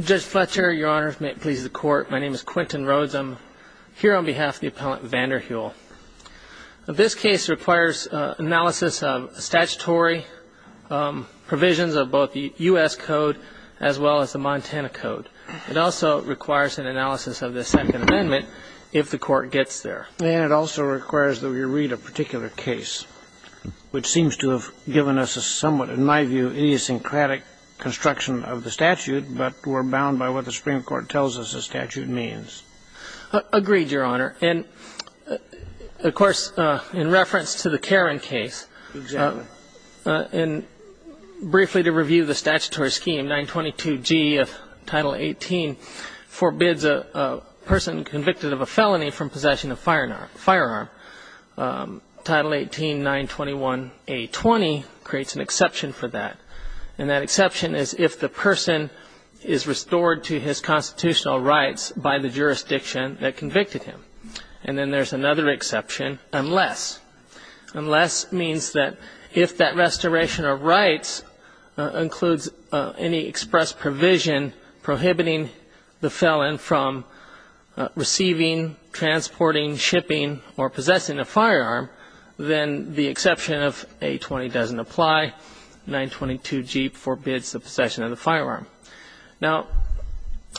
Judge Fletcher, your honors, may it please the court, my name is Quintin Rhodes. I'm here on behalf of the appellant Van der hule. This case requires analysis of statutory provisions of both the U.S. Code as well as the Montana Code. It also requires an analysis of the Second Amendment if the court gets there. And it also requires that we read a particular case, which seems to have given us a somewhat, in my view, idiosyncratic construction of the statute, but we're bound by what the Supreme Court tells us the statute means. Agreed, your honor. And, of course, in reference to the Karen case, and briefly to review the statutory scheme, 922G of Title 18 forbids a person convicted of a felony from possessing a firearm. Title 18, 921A20 creates an exception for that. And that exception is if the person is restored to his constitutional rights by the jurisdiction that convicted him. And then there's another exception, unless. Unless means that if that restoration of rights includes any express provision prohibiting the felon from receiving, transporting, shipping, or possessing a firearm, then the exception of 820 doesn't apply. 922G forbids the possession of the firearm. Now,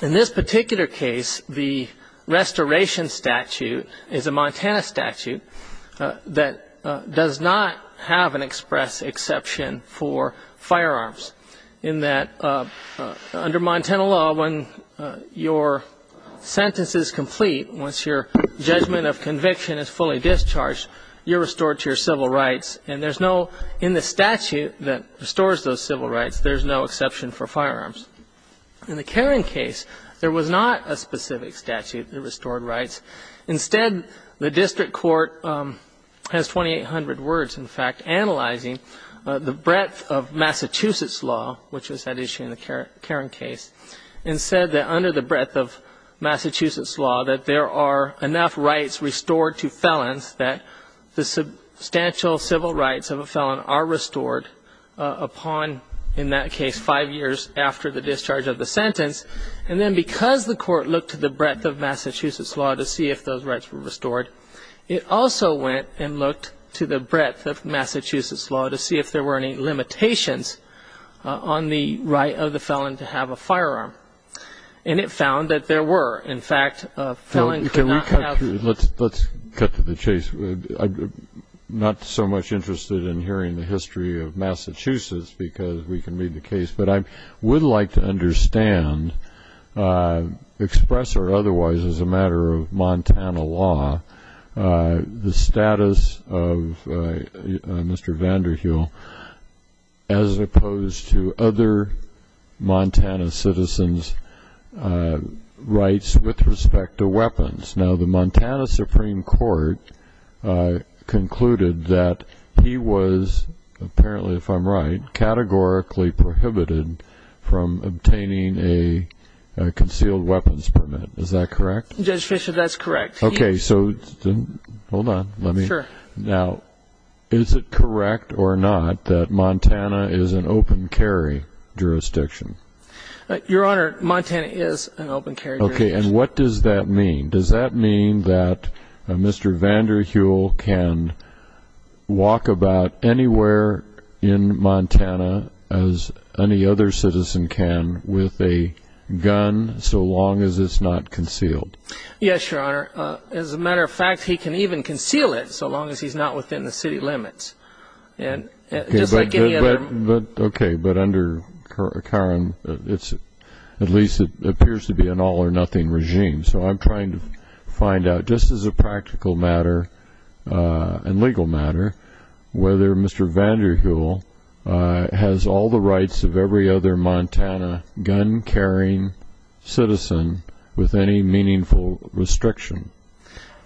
in this particular case, the restoration statute is a Montana statute that does not have an express exception for firearms, in that under Montana law, when your sentence is complete, once your judgment of conviction is fully discharged, you're restored to your civil rights. And there's no – in the statute that restores those civil rights, there's no exception for firearms. In the Karen case, there was not a specific statute that restored rights. Instead, the district court has 2,800 words, in fact, the breadth of Massachusetts law, which was at issue in the Karen case, and said that under the breadth of Massachusetts law that there are enough rights restored to felons that the substantial civil rights of a felon are restored upon, in that case, five years after the discharge of the sentence. And then because the court looked to the breadth of Massachusetts law to see if those rights were restored, it also went and looked to the breadth of Massachusetts law to see if there were any limitations on the right of the felon to have a firearm. And it found that there were. In fact, a felon could not have a firearm. Let's cut to the chase. I'm not so much interested in hearing the history of Massachusetts because we can read the case, but I would like to understand, express or otherwise as a matter of Montana law, the status of Mr. Vander Heel as opposed to other Montana citizens' rights with respect to weapons. Now, the Montana Supreme Court concluded that he was, apparently if I'm right, categorically prohibited from obtaining a concealed weapons permit. Is that correct? Judge Fischer, that's correct. Okay. So hold on. Let me. Sure. Now, is it correct or not that Montana is an open carry jurisdiction? Your Honor, Montana is an open carry jurisdiction. Okay. And what does that mean? Does that mean that Mr. Vander Heel can walk about anywhere in Montana, as any other citizen can, with a gun so long as it's not concealed? Yes, Your Honor. As a matter of fact, he can even conceal it so long as he's not within the city limits. Just like any other. Okay. But under Karen, at least it appears to be an all-or-nothing regime. So I'm trying to find out, just as a practical matter and legal matter, whether Mr. Vander Heel has all the rights of every other Montana gun-carrying citizen with any meaningful restriction.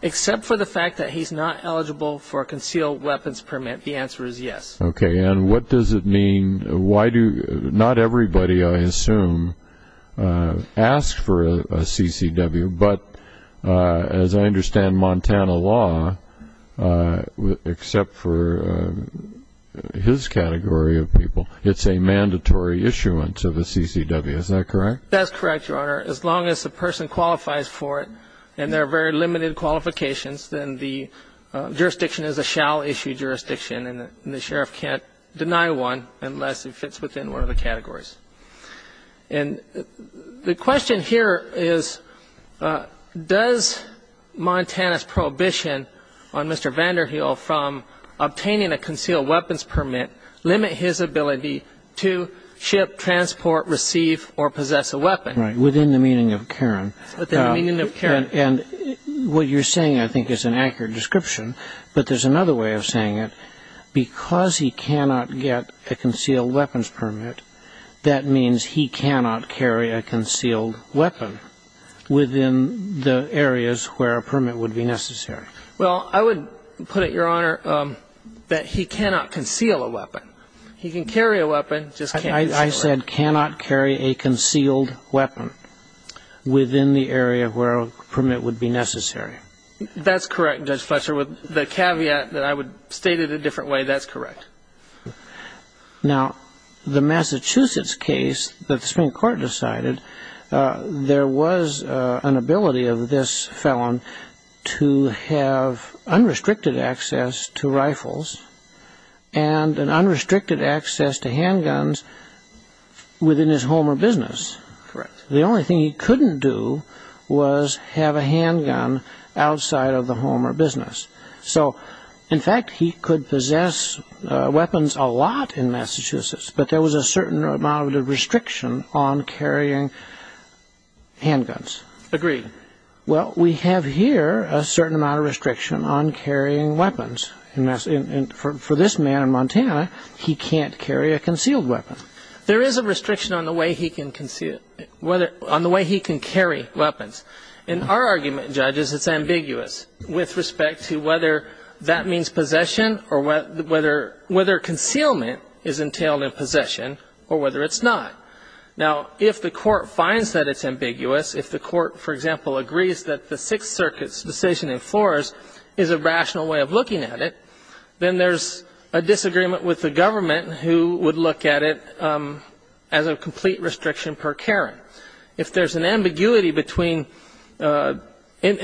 Except for the fact that he's not eligible for a concealed weapons permit. The answer is yes. Okay. And what does it mean? Not everybody, I assume, asks for a CCW. But as I understand Montana law, except for his category of people, it's a mandatory issuance of a CCW. Is that correct? That's correct, Your Honor. As long as the person qualifies for it and there are very limited qualifications, then the jurisdiction is a shall-issue jurisdiction and the sheriff can't deny one unless it fits within one of the categories. And the question here is, does Montana's prohibition on Mr. Vander Heel from obtaining a concealed weapons permit limit his ability to ship, transport, receive, or possess a weapon? Right. Within the meaning of Karen. Within the meaning of Karen. And what you're saying, I think, is an accurate description. But there's another way of saying it. Because he cannot get a concealed weapons permit, that means he cannot carry a concealed weapon within the areas where a permit would be necessary. Well, I would put it, Your Honor, that he cannot conceal a weapon. He can carry a weapon, just can't use it. I said cannot carry a concealed weapon within the area where a permit would be necessary. That's correct, Judge Fletcher. With the caveat that I would state it a different way, that's correct. Now, the Massachusetts case that the Supreme Court decided, there was an ability of this felon to have unrestricted access to rifles and unrestricted access to handguns within his home or business. Correct. The only thing he couldn't do was have a handgun outside of the home or business. So, in fact, he could possess weapons a lot in Massachusetts, but there was a certain amount of restriction on carrying handguns. Agreed. Well, we have here a certain amount of restriction on carrying weapons. For this man in Montana, he can't carry a concealed weapon. There is a restriction on the way he can carry weapons. In our argument, judges, it's ambiguous with respect to whether that means possession or whether concealment is entailed in possession or whether it's not. Now, if the Court finds that it's ambiguous, if the Court, for example, agrees that the Sixth Circuit's decision in Flores is a rational way of looking at it, then there's a disagreement with the government who would look at it as a complete restriction per Karen. If there's an ambiguity between, in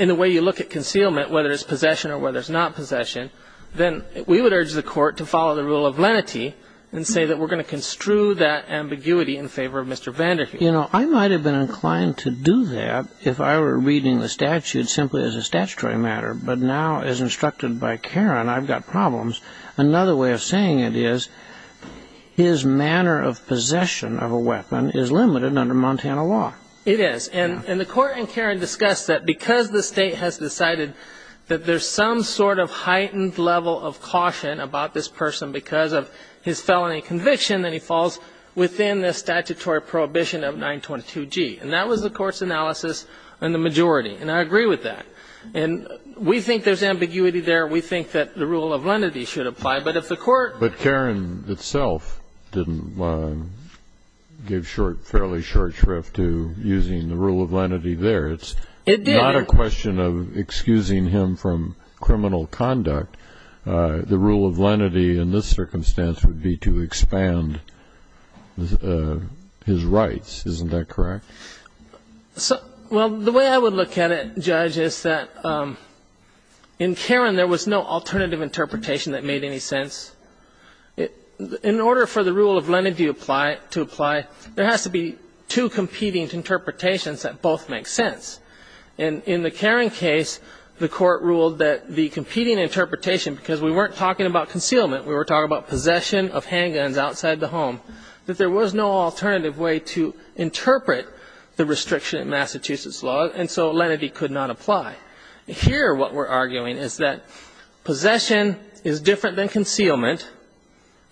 the way you look at concealment, whether it's possession or whether it's not possession, then we would urge the Court to follow the rule of lenity and say that we're going to construe that ambiguity in favor of Mr. Vanderheide. You know, I might have been inclined to do that if I were reading the statute simply as a statutory matter. But now, as instructed by Karen, I've got problems. Another way of saying it is his manner of possession of a weapon is limited under Montana law. It is. And the Court and Karen discussed that because the state has decided that there's some sort of heightened level of caution about this person because of his felony conviction, then he falls within the statutory prohibition of 922G. And that was the Court's analysis in the majority. And I agree with that. And we think there's ambiguity there. We think that the rule of lenity should apply. But if the Court ---- But Karen itself didn't give fairly short shrift to using the rule of lenity there. It's not a question of excusing him from criminal conduct. The rule of lenity in this circumstance would be to expand his rights. Isn't that correct? Well, the way I would look at it, Judge, is that in Karen there was no alternative interpretation that made any sense. In order for the rule of lenity to apply, there has to be two competing interpretations that both make sense. And in the Karen case, the Court ruled that the competing interpretation ---- because we weren't talking about concealment, we were talking about possession of handguns outside the home, that there was no alternative way to interpret the restriction in Massachusetts law. And so lenity could not apply. Here what we're arguing is that possession is different than concealment,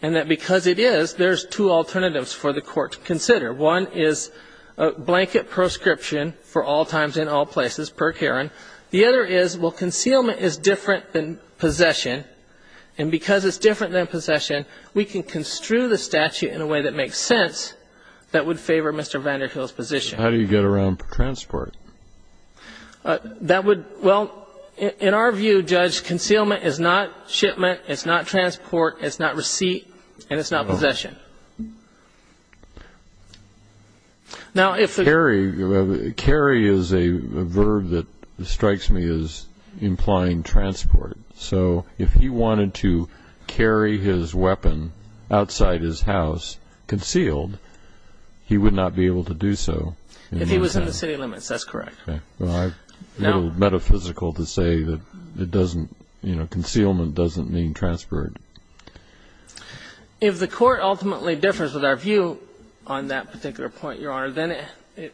and that because it is, there's two alternatives for the Court to consider. One is a blanket proscription for all times and all places, per Karen. The other is, well, concealment is different than possession. And because it's different than possession, we can construe the statute in a way that makes sense that would favor Mr. Vander Hill's position. How do you get around for transport? That would ---- well, in our view, Judge, concealment is not shipment, it's not transport, it's not receipt, and it's not possession. Now, if the ---- Carry is a verb that strikes me as implying transport. So if he wanted to carry his weapon outside his house concealed, he would not be able to do so. If he was in the city limits, that's correct. Well, I'm a little metaphysical to say that it doesn't, you know, concealment doesn't mean transport. If the Court ultimately differs with our view on that particular point, Your Honor, then it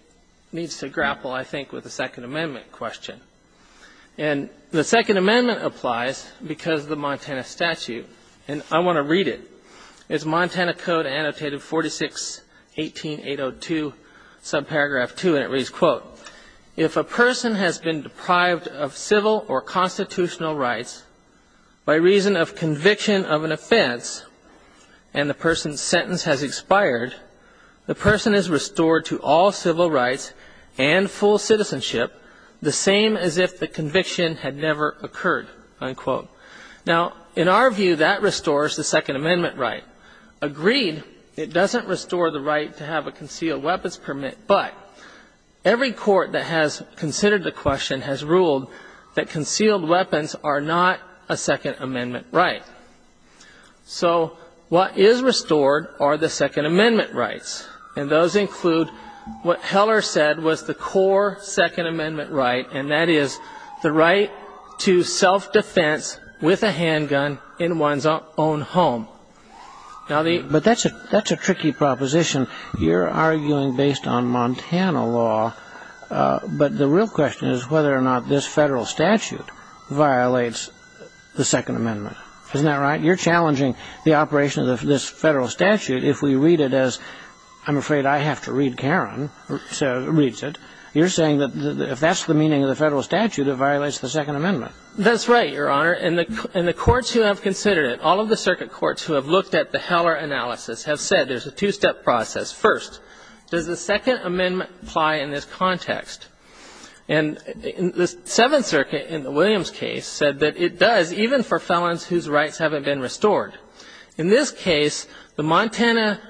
needs to grapple, I think, with the Second Amendment question. And the Second Amendment applies because of the Montana statute. And I want to read it. It's Montana Code, annotated 4618802, subparagraph 2, and it reads, quote, if a person has been deprived of civil or constitutional rights by reason of conviction of an offense and the person's sentence has expired, the person is restored to all civil rights and full citizenship, the same as if the conviction had never occurred, unquote. Now, in our view, that restores the Second Amendment right. Agreed, it doesn't restore the right to have a concealed weapons permit, but every court that has considered the question has ruled that concealed weapons are not a Second Amendment right. So what is restored are the Second Amendment rights, and those include what Heller said was the core Second Amendment right, and that is the right to self-defense with a handgun in one's own home. But that's a tricky proposition. You're arguing based on Montana law, but the real question is whether or not this federal statute violates the Second Amendment. Isn't that right? You're challenging the operation of this federal statute if we read it as, I'm afraid I have to read Karen reads it. You're saying that if that's the meaning of the federal statute, it violates the Second Amendment. That's right, Your Honor. And the courts who have considered it, all of the circuit courts who have looked at the Heller analysis have said there's a two-step process. First, does the Second Amendment apply in this context? And the Seventh Circuit in the Williams case said that it does, even for felons whose rights haven't been restored. In this case, the Montana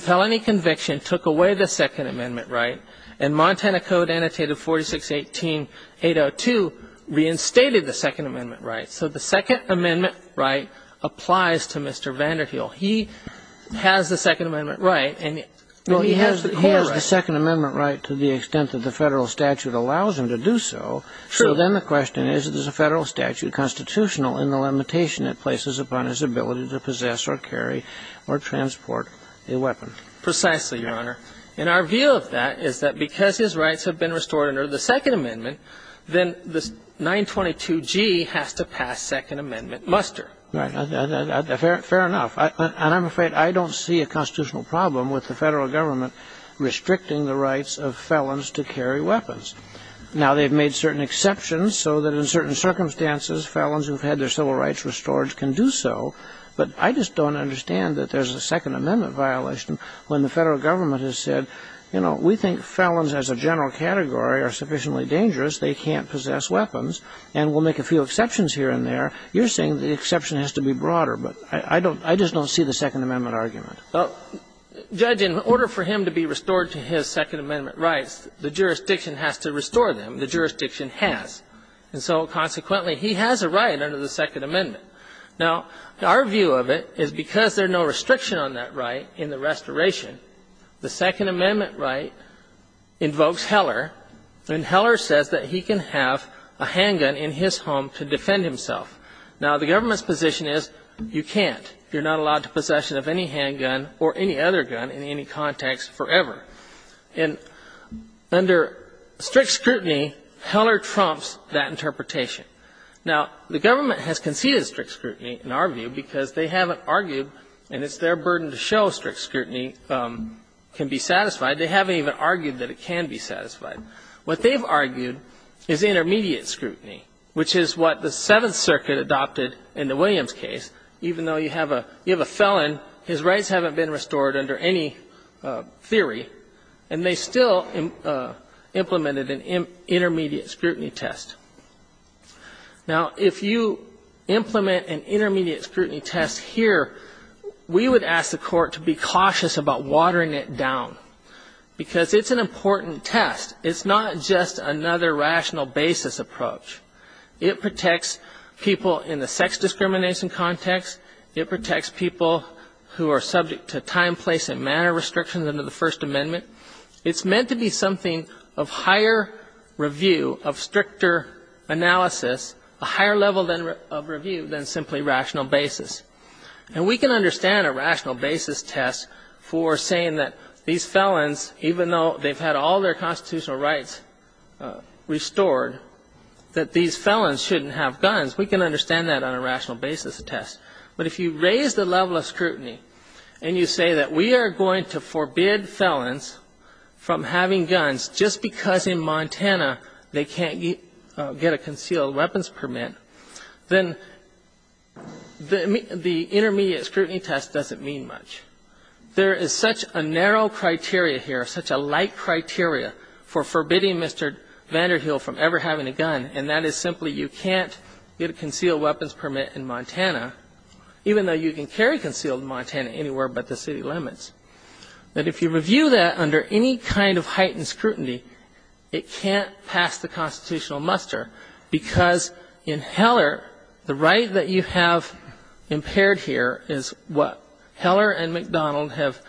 felony conviction took away the Second Amendment right, and Montana Code Annotated 4618.802 reinstated the Second Amendment right. So the Second Amendment right applies to Mr. VanderHeel. He has the Second Amendment right, and he has the core right. To the extent that the federal statute allows him to do so, so then the question is, is the federal statute constitutional in the limitation it places upon his ability to possess or carry or transport a weapon? Precisely, Your Honor. And our view of that is that because his rights have been restored under the Second Amendment, then this 922G has to pass Second Amendment muster. Right. Fair enough. And I'm afraid I don't see a constitutional problem with the federal government restricting the rights of felons to carry weapons. Now, they've made certain exceptions so that in certain circumstances, felons who've had their civil rights restored can do so, but I just don't understand that there's a Second Amendment violation when the federal government has said, you know, we think felons as a general category are sufficiently dangerous, they can't possess weapons, and we'll make a few exceptions here and there. You're saying the exception has to be broader, but I just don't see the Second Amendment argument. Judge, in order for him to be restored to his Second Amendment rights, the jurisdiction has to restore them. The jurisdiction has. And so consequently, he has a right under the Second Amendment. Now, our view of it is because there's no restriction on that right in the restoration, the Second Amendment right invokes Heller, and Heller says that he can have a handgun in his home to defend himself. Now, the government's position is you can't. You're not allowed to possess any handgun or any other gun in any context forever. And under strict scrutiny, Heller trumps that interpretation. Now, the government has conceded strict scrutiny in our view because they haven't argued, and it's their burden to show strict scrutiny can be satisfied. They haven't even argued that it can be satisfied. What they've argued is intermediate scrutiny, which is what the Seventh Circuit adopted in the Williams case. Even though you have a felon, his rights haven't been restored under any theory, and they still implemented an intermediate scrutiny test. Now, if you implement an intermediate scrutiny test here, we would ask the Court to be cautious about watering it down because it's an important test. It's not just another rational basis approach. It protects people in the sex discrimination context. It protects people who are subject to time, place, and manner restrictions under the First Amendment. It's meant to be something of higher review, of stricter analysis, a higher level of review than simply rational basis. And we can understand a rational basis test for saying that these felons, even though they've had all their constitutional rights restored, that these felons shouldn't have guns. We can understand that on a rational basis test. But if you raise the level of scrutiny and you say that we are going to forbid felons from having guns just because in Montana they can't get a concealed weapons permit, then the intermediate scrutiny test doesn't mean much. There is such a narrow criteria here, such a light criteria for forbidding Mr. Vander Hill from ever having a gun, and that is simply you can't get a concealed weapons permit in Montana, even though you can carry concealed in Montana anywhere but the city limits, that if you review that under any kind of heightened scrutiny, it can't pass the constitutional muster because in Heller, the right that you have impaired here is what Heller and McDonald have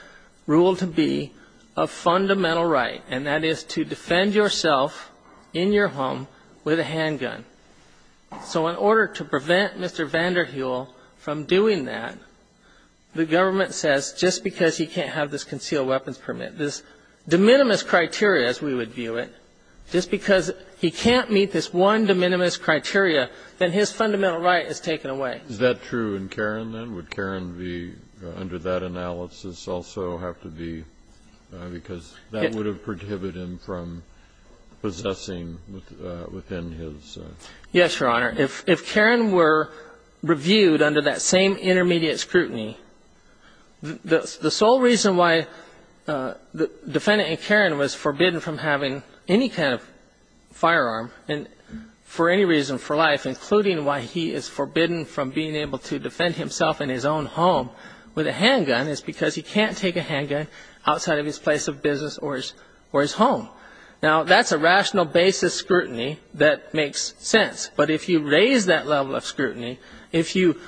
ruled to be a fundamental right, and that is to defend yourself in your home with a handgun. So in order to prevent Mr. Vander Hill from doing that, the government says just because he can't have this concealed weapons permit, this de minimis criteria as we would view it, just because he can't meet this one de minimis criteria, then his fundamental right is taken away. Is that true in Caron, then? Would Caron be under that analysis also have to be, because that would have prohibited him from possessing within his own? Yes, Your Honor. If Caron were reviewed under that same intermediate scrutiny, the sole reason why the defendant in Caron was forbidden from having any kind of firearm and for any reason for life, including why he is forbidden from being able to defend himself in his own home with a handgun, is because he can't take a handgun outside of his place of business or his home. Now, that's a rational basis scrutiny that makes sense. But if you raise that level of scrutiny, if you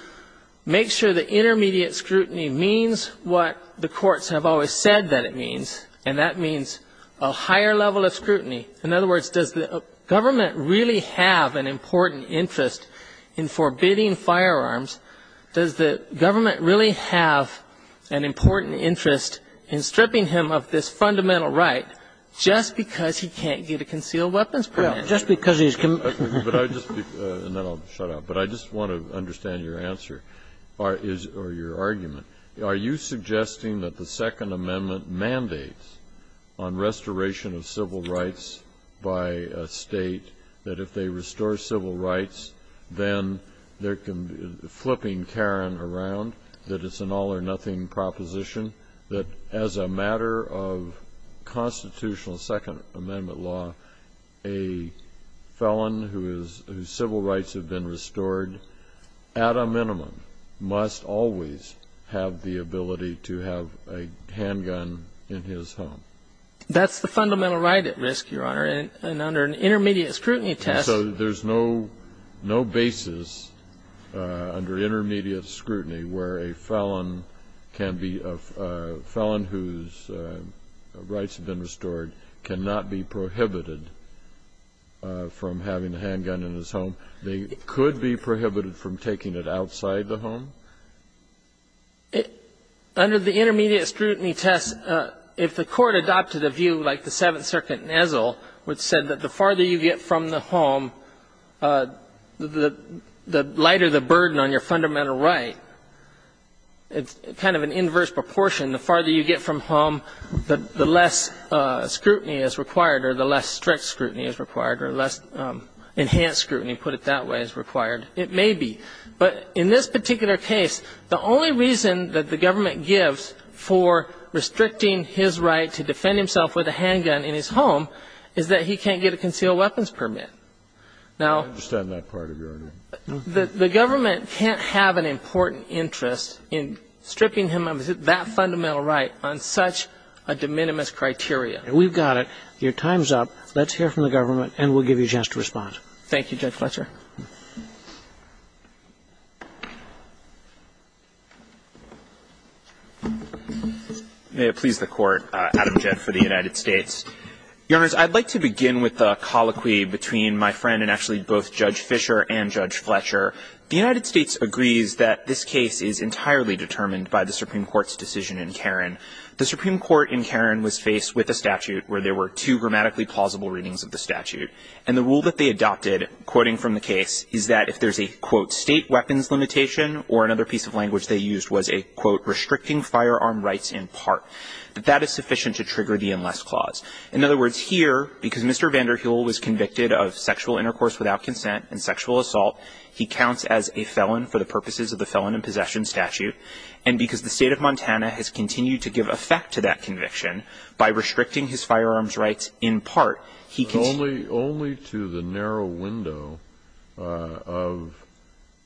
make sure that intermediate scrutiny means what the courts have always said that it means, and that means a higher level of scrutiny, in other words, does the government really have an important interest in forbidding firearms, does the government really have an important interest in stripping him of this fundamental right just because he can't get a concealed weapons permit? Just because he's committed. And then I'll shut up. But I just want to understand your answer or your argument. Are you suggesting that the Second Amendment mandates on restoration of civil rights by a state that if they restore civil rights, then they're flipping Caron around, that it's an all-or-nothing proposition, that as a matter of constitutional Second Amendment law, a felon whose civil rights have been restored, at a minimum, must always have the ability to have a handgun in his home? That's the fundamental right at risk, Your Honor, and under an intermediate scrutiny test. So there's no basis under intermediate scrutiny where a felon can be a felon whose rights have been restored cannot be prohibited from having a handgun in his home. They could be prohibited from taking it outside the home? Under the intermediate scrutiny test, if the Court adopted a view like the Seventh Circuit in Ezel, which said that the farther you get from the home, the lighter the burden on your fundamental right, it's kind of an inverse proportion. The farther you get from home, the less scrutiny is required or the less strict scrutiny, put it that way, is required. It may be. But in this particular case, the only reason that the government gives for restricting his right to defend himself with a handgun in his home is that he can't get a concealed weapons permit. Now the government can't have an important interest in stripping him of that fundamental right on such a de minimis criteria. We've got it. Your time's up. Let's hear from the government, and we'll give you a chance to respond. Thank you, Judge Fletcher. May it please the Court, Adam Jett for the United States. Your Honors, I'd like to begin with a colloquy between my friend and actually both Judge Fischer and Judge Fletcher. The United States agrees that this case is entirely determined by the Supreme Court's decision in Caron. The Supreme Court in Caron was faced with a statute where there were two grammatically plausible readings of the statute. And the rule that they adopted, quoting from the case, is that if there's a, quote, state weapons limitation, or another piece of language they used was a, quote, restricting firearm rights in part, that that is sufficient to trigger the unless clause. In other words, here, because Mr. Vander Heul was convicted of sexual intercourse without consent and sexual assault, he counts as a felon for the purposes of the Felon in Possession statute. And because the State of Montana has continued to give effect to that conviction by restricting his firearms rights in part, he can't. Only to the narrow window of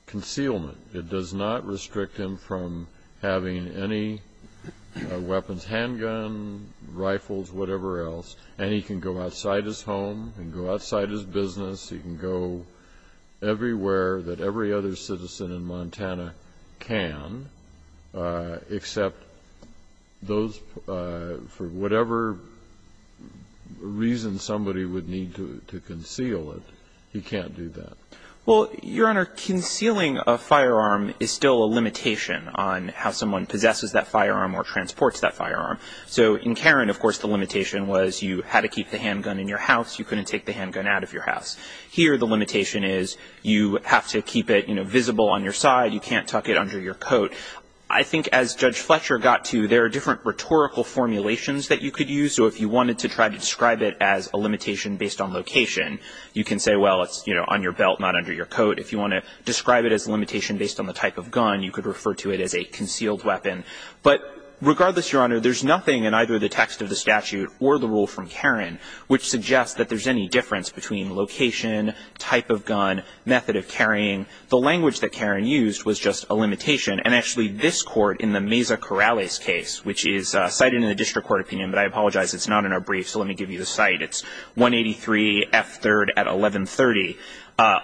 concealment. It does not restrict him from having any weapons, handgun, rifles, whatever else. And he can go outside his home. He can go outside his business. He can go everywhere that every other citizen in Montana can, except those, for whatever reason somebody would need to conceal it, he can't do that. Well, Your Honor, concealing a firearm is still a limitation on how someone possesses that firearm or transports that firearm. So in Caron, of course, the limitation was you had to keep the handgun in your Here, the limitation is you have to keep it, you know, visible on your side. You can't tuck it under your coat. I think as Judge Fletcher got to, there are different rhetorical formulations that you could use. So if you wanted to try to describe it as a limitation based on location, you can say, well, it's, you know, on your belt, not under your coat. If you want to describe it as a limitation based on the type of gun, you could refer to it as a concealed weapon. But regardless, Your Honor, there's nothing in either the text of the statute or the type of gun, method of carrying. The language that Caron used was just a limitation. And actually, this Court in the Meza-Corrales case, which is cited in the district court opinion, but I apologize, it's not in our brief, so let me give you the site. It's 183 F. 3rd at 1130,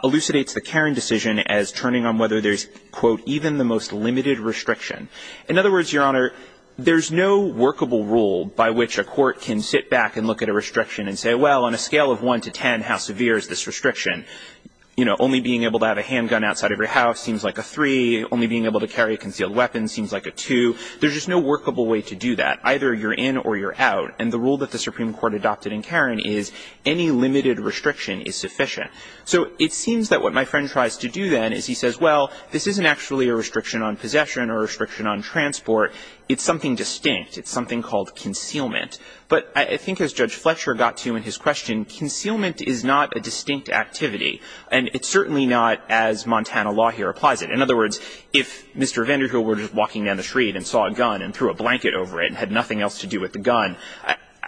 elucidates the Caron decision as turning on whether there's, quote, even the most limited restriction. In other words, Your Honor, there's no workable rule by which a court can sit down and say, well, let's say you have one to ten, how severe is this restriction? You know, only being able to have a handgun outside of your house seems like a three. Only being able to carry a concealed weapon seems like a two. There's just no workable way to do that. Either you're in or you're out. And the rule that the Supreme Court adopted in Caron is any limited restriction is sufficient. So it seems that what my friend tries to do then is he says, well, this isn't actually a restriction on possession or a restriction on transport. It's something distinct. It's something called concealment. But I think as Judge Fletcher got to in his question, concealment is not a distinct activity. And it's certainly not as Montana law here applies it. In other words, if Mr. Vander Hill were just walking down the street and saw a gun and threw a blanket over it and had nothing else to do with the gun,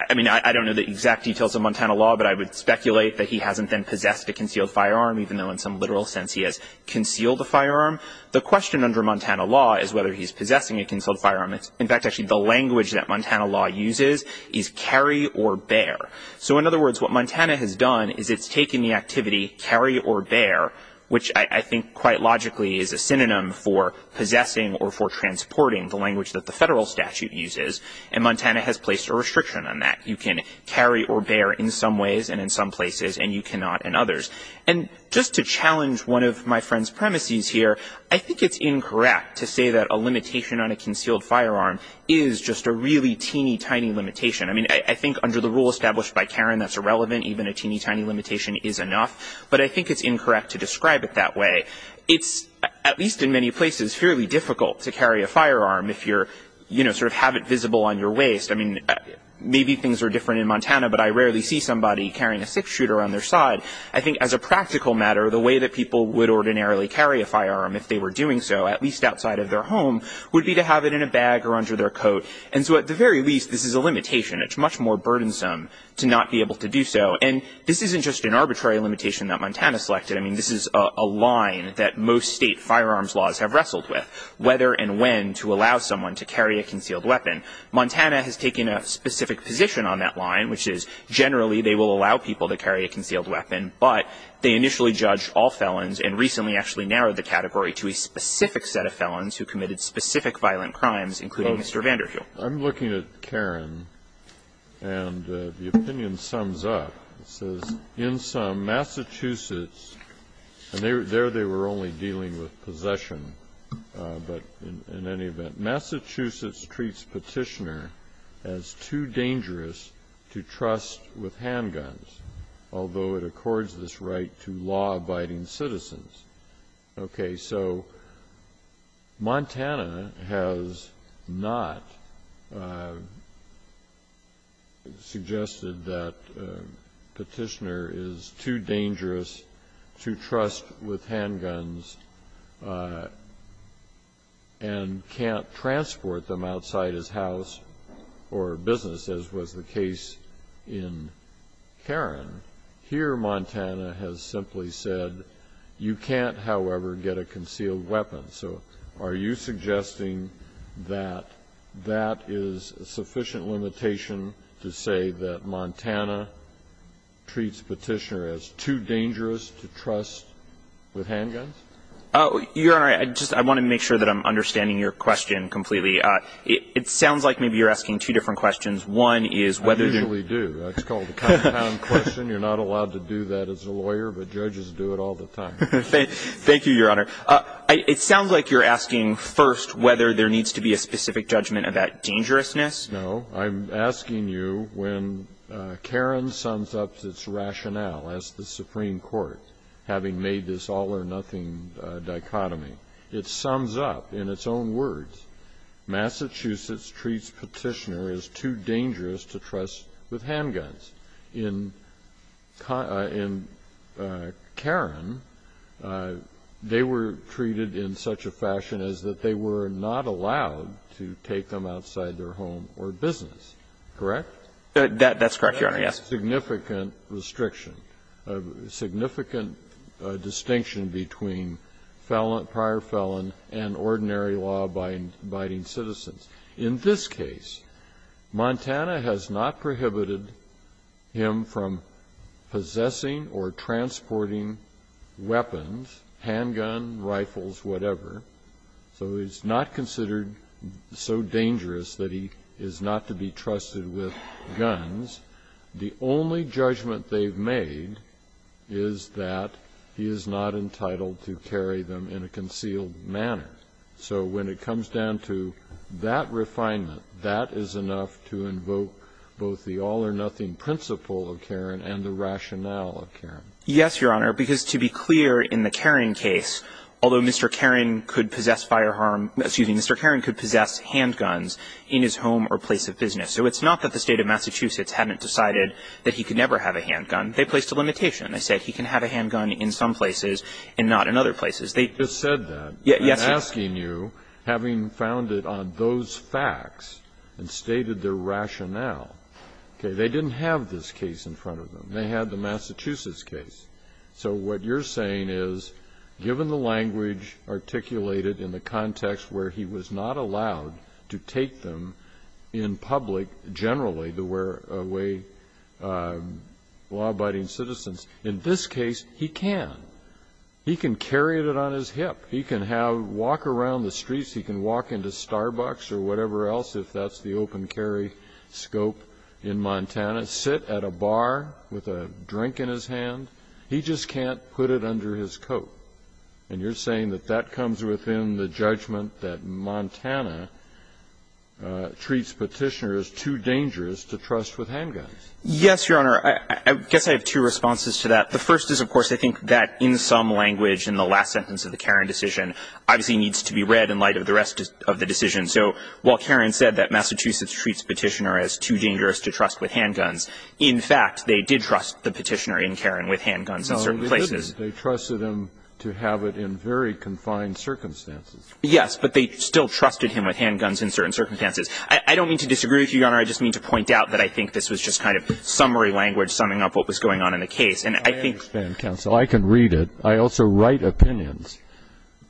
I mean, I don't know the exact details of Montana law, but I would speculate that he hasn't then possessed a concealed firearm, even though in some literal sense he has concealed the firearm. The question under Montana law is whether he's possessing a concealed firearm. In fact, actually the language that Montana law uses is carry or bear. So in other words, what Montana has done is it's taken the activity carry or bear, which I think quite logically is a synonym for possessing or for transporting, the language that the federal statute uses. And Montana has placed a restriction on that. You can carry or bear in some ways and in some places, and you cannot in others. And just to challenge one of my friend's premises here, I think it's incorrect to say that a limitation on a concealed firearm is just a really teeny, tiny limitation. I mean, I think under the rule established by Karen that's irrelevant, even a teeny, tiny limitation is enough. But I think it's incorrect to describe it that way. It's, at least in many places, fairly difficult to carry a firearm if you're, you know, sort of have it visible on your waist. I mean, maybe things are different in Montana, but I rarely see somebody carrying a six-shooter on their side. I think as a practical matter, the way that people would ordinarily carry a firearm outside of their home would be to have it in a bag or under their coat. And so at the very least, this is a limitation. It's much more burdensome to not be able to do so. And this isn't just an arbitrary limitation that Montana selected. I mean, this is a line that most state firearms laws have wrestled with, whether and when to allow someone to carry a concealed weapon. Montana has taken a specific position on that line, which is generally they will allow people to carry a concealed weapon, but they initially judged all felons and recently actually narrowed the category to a specific set of felons who committed specific violent crimes, including Mr. Vander Hill. I'm looking at Karen, and the opinion sums up. It says, in sum, Massachusetts, and there they were only dealing with possession, but in any event, Massachusetts treats Petitioner as too dangerous to trust with handguns, although it accords this right to law-abiding citizens. Okay, so Montana has not suggested that Petitioner is too dangerous to trust with Karen. Here Montana has simply said, you can't, however, get a concealed weapon. So are you suggesting that that is a sufficient limitation to say that Montana treats Petitioner as too dangerous to trust with handguns? Oh, Your Honor, I just want to make sure that I'm understanding your question completely. It sounds like maybe you're asking two different questions. One is whether you're I usually do. It's called the compound question. You're not allowed to do that as a lawyer, but judges do it all the time. Thank you, Your Honor. It sounds like you're asking first whether there needs to be a specific judgment about dangerousness. No. I'm asking you, when Karen sums up its rationale as the Supreme Court, having made this all-or-nothing dichotomy, it sums up in its own words, Massachusetts treats Petitioner as too dangerous to trust with handguns. In Karen, they were treated in such a fashion as that they were not allowed to take them outside their home or business, correct? That's correct, Your Honor, yes. Significant restriction, significant distinction between prior felon and ordinary law-abiding citizens. In this case, Montana has not prohibited him from possessing or transporting weapons, handgun, rifles, whatever. So he's not considered so dangerous that he is not to be trusted with guns. The only judgment they've made is that he is not entitled to carry them in a concealed manner. So when it comes down to that refinement, that is enough to invoke both the all-or-nothing principle of Karen and the rationale of Karen. Yes, Your Honor. Because to be clear, in the Karen case, although Mr. Karen could possess firearm – excuse me, Mr. Karen could possess handguns in his home or place of business. So it's not that the State of Massachusetts hadn't decided that he could never have a handgun. They placed a limitation. They said he can have a handgun in some places and not in other places. They just said that. Yes, Your Honor. I'm asking you, having found it on those facts and stated their rationale. Okay. They didn't have this case in front of them. They had the Massachusetts case. So what you're saying is, given the language articulated in the context where he was not allowed to take them in public generally to wear away law-abiding citizens, in this case he can. He can carry it on his hip. He can have – walk around the streets. He can walk into Starbucks or whatever else, if that's the open carry scope in Montana. Sit at a bar with a drink in his hand. He just can't put it under his coat. And you're saying that that comes within the judgment that Montana treats Petitioner as too dangerous to trust with handguns. Yes, Your Honor. I guess I have two responses to that. The first is, of course, I think that in some language in the last sentence of the Caron decision obviously needs to be read in light of the rest of the decision. So while Caron said that Massachusetts treats Petitioner as too dangerous to trust with handguns, in fact, they did trust the Petitioner in Caron with handguns in certain places. No, they didn't. They trusted him to have it in very confined circumstances. Yes, but they still trusted him with handguns in certain circumstances. I don't mean to disagree with you, Your Honor. I just mean to point out that I think this was just kind of summary language, summing up what was going on in the case. I understand, counsel. I can read it. I also write opinions.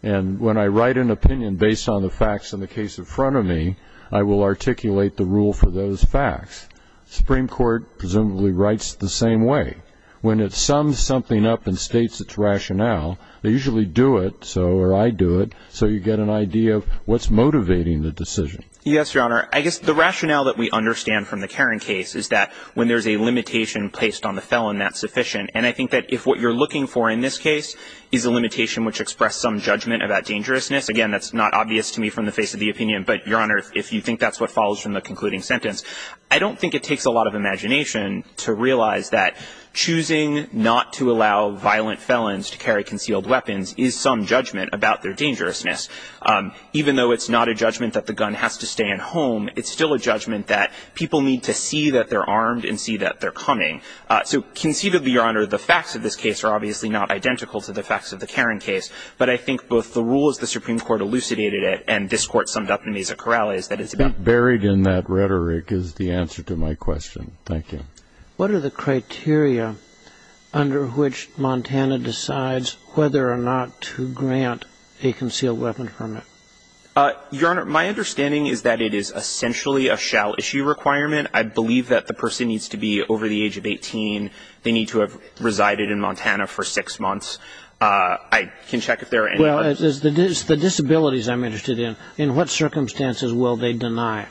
And when I write an opinion based on the facts in the case in front of me, I will articulate the rule for those facts. The Supreme Court presumably writes it the same way. When it sums something up and states its rationale, they usually do it, or I do it, so you get an idea of what's motivating the decision. Yes, Your Honor. I guess the rationale that we understand from the Caron case is that when there's a limitation placed on the felon, that's sufficient. And I think that if what you're looking for in this case is a limitation which express some judgment about dangerousness, again, that's not obvious to me from the face of the opinion, but, Your Honor, if you think that's what follows from the concluding sentence, I don't think it takes a lot of imagination to realize that choosing not to allow violent felons to carry concealed weapons is some judgment about their dangerousness. Even though it's not a judgment that the gun has to stay at home, it's still a judgment that people need to see that they're armed and see that they're coming. So, conceivably, Your Honor, the facts of this case are obviously not identical to the facts of the Caron case, but I think both the rules the Supreme Court elucidated and this Court summed up in these corrales that it's about the same. Buried in that rhetoric is the answer to my question. Thank you. What are the criteria under which Montana decides whether or not to grant a concealed weapon permit? Your Honor, my understanding is that it is essentially a shell issue requirement. I believe that the person needs to be over the age of 18. They need to have resided in Montana for six months. I can check if there are any others. Well, it's the disabilities I'm interested in. In what circumstances will they deny?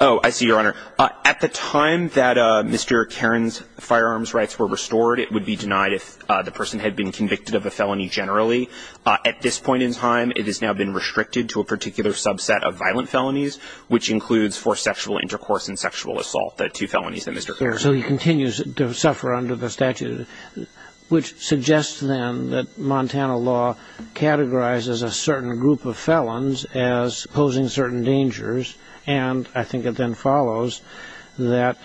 Oh, I see, Your Honor. At the time that Mr. Caron's firearms rights were restored, it would be denied if the person had been convicted of a felony generally. At this point in time, it has now been restricted to a particular subset of violent felonies, which includes forced sexual intercourse and sexual assault, the two felonies that Mr. Caron had. So he continues to suffer under the statute, which suggests then that Montana law categorizes a certain group of felons as posing certain dangers, and I think it then follows that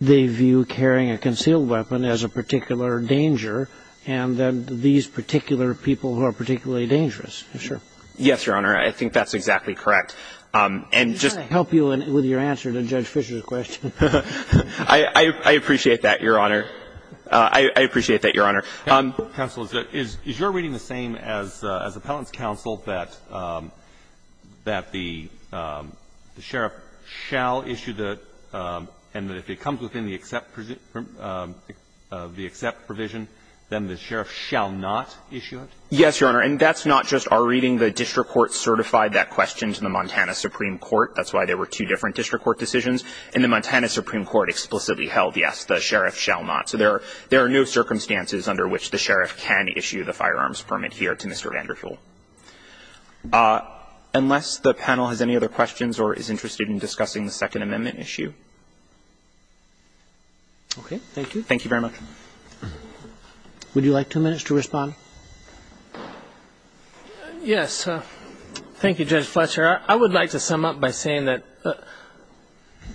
they view carrying a concealed weapon as a particular danger and that these particular people are particularly dangerous. I'm sure. Yes, Your Honor. I think that's exactly correct. And just to help you with your answer to Judge Fisher's question. I appreciate that, Your Honor. I appreciate that, Your Honor. Counsel, is your reading the same as Appellant's counsel that the sheriff shall issue the, and that if it comes within the except provision, then the sheriff shall not issue it? Yes, Your Honor. And that's not just our reading. The district court certified that question to the Montana Supreme Court. That's why there were two different district court decisions. And the Montana Supreme Court explicitly held, yes, the sheriff shall not. So there are no circumstances under which the sheriff can issue the firearms permit here to Mr. Vanderpool. Unless the panel has any other questions or is interested in discussing the Second Amendment issue. Okay. Thank you. Thank you very much. Would you like two minutes to respond? Yes. Thank you, Judge Fletcher. I would like to sum up by saying that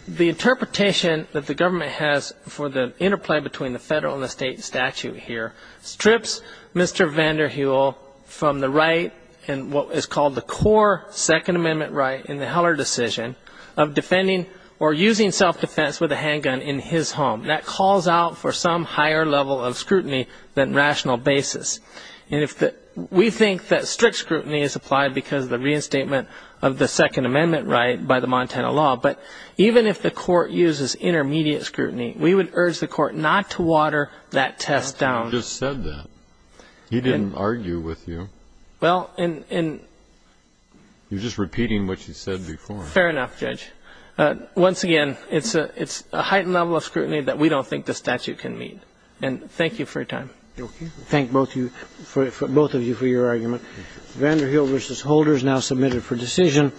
the interpretation that the government has for the interplay between the federal and the state statute here strips Mr. Vanderheul from the right and what is called the core Second Amendment right in the Heller decision of defending or using self-defense with a handgun in his home. That calls out for some higher level of scrutiny than rational basis. And we think that strict scrutiny is applied because of the reinstatement of the Second Amendment right by the Montana law. But even if the court uses intermediate scrutiny, we would urge the court not to water that test down. You just said that. He didn't argue with you. Well, and ‑‑ You're just repeating what you said before. Fair enough, Judge. Once again, it's a heightened level of scrutiny that we don't think the statute can meet. And thank you for your time. Thank both of you for your argument. Vanderheul v. Holder is now submitted for decision.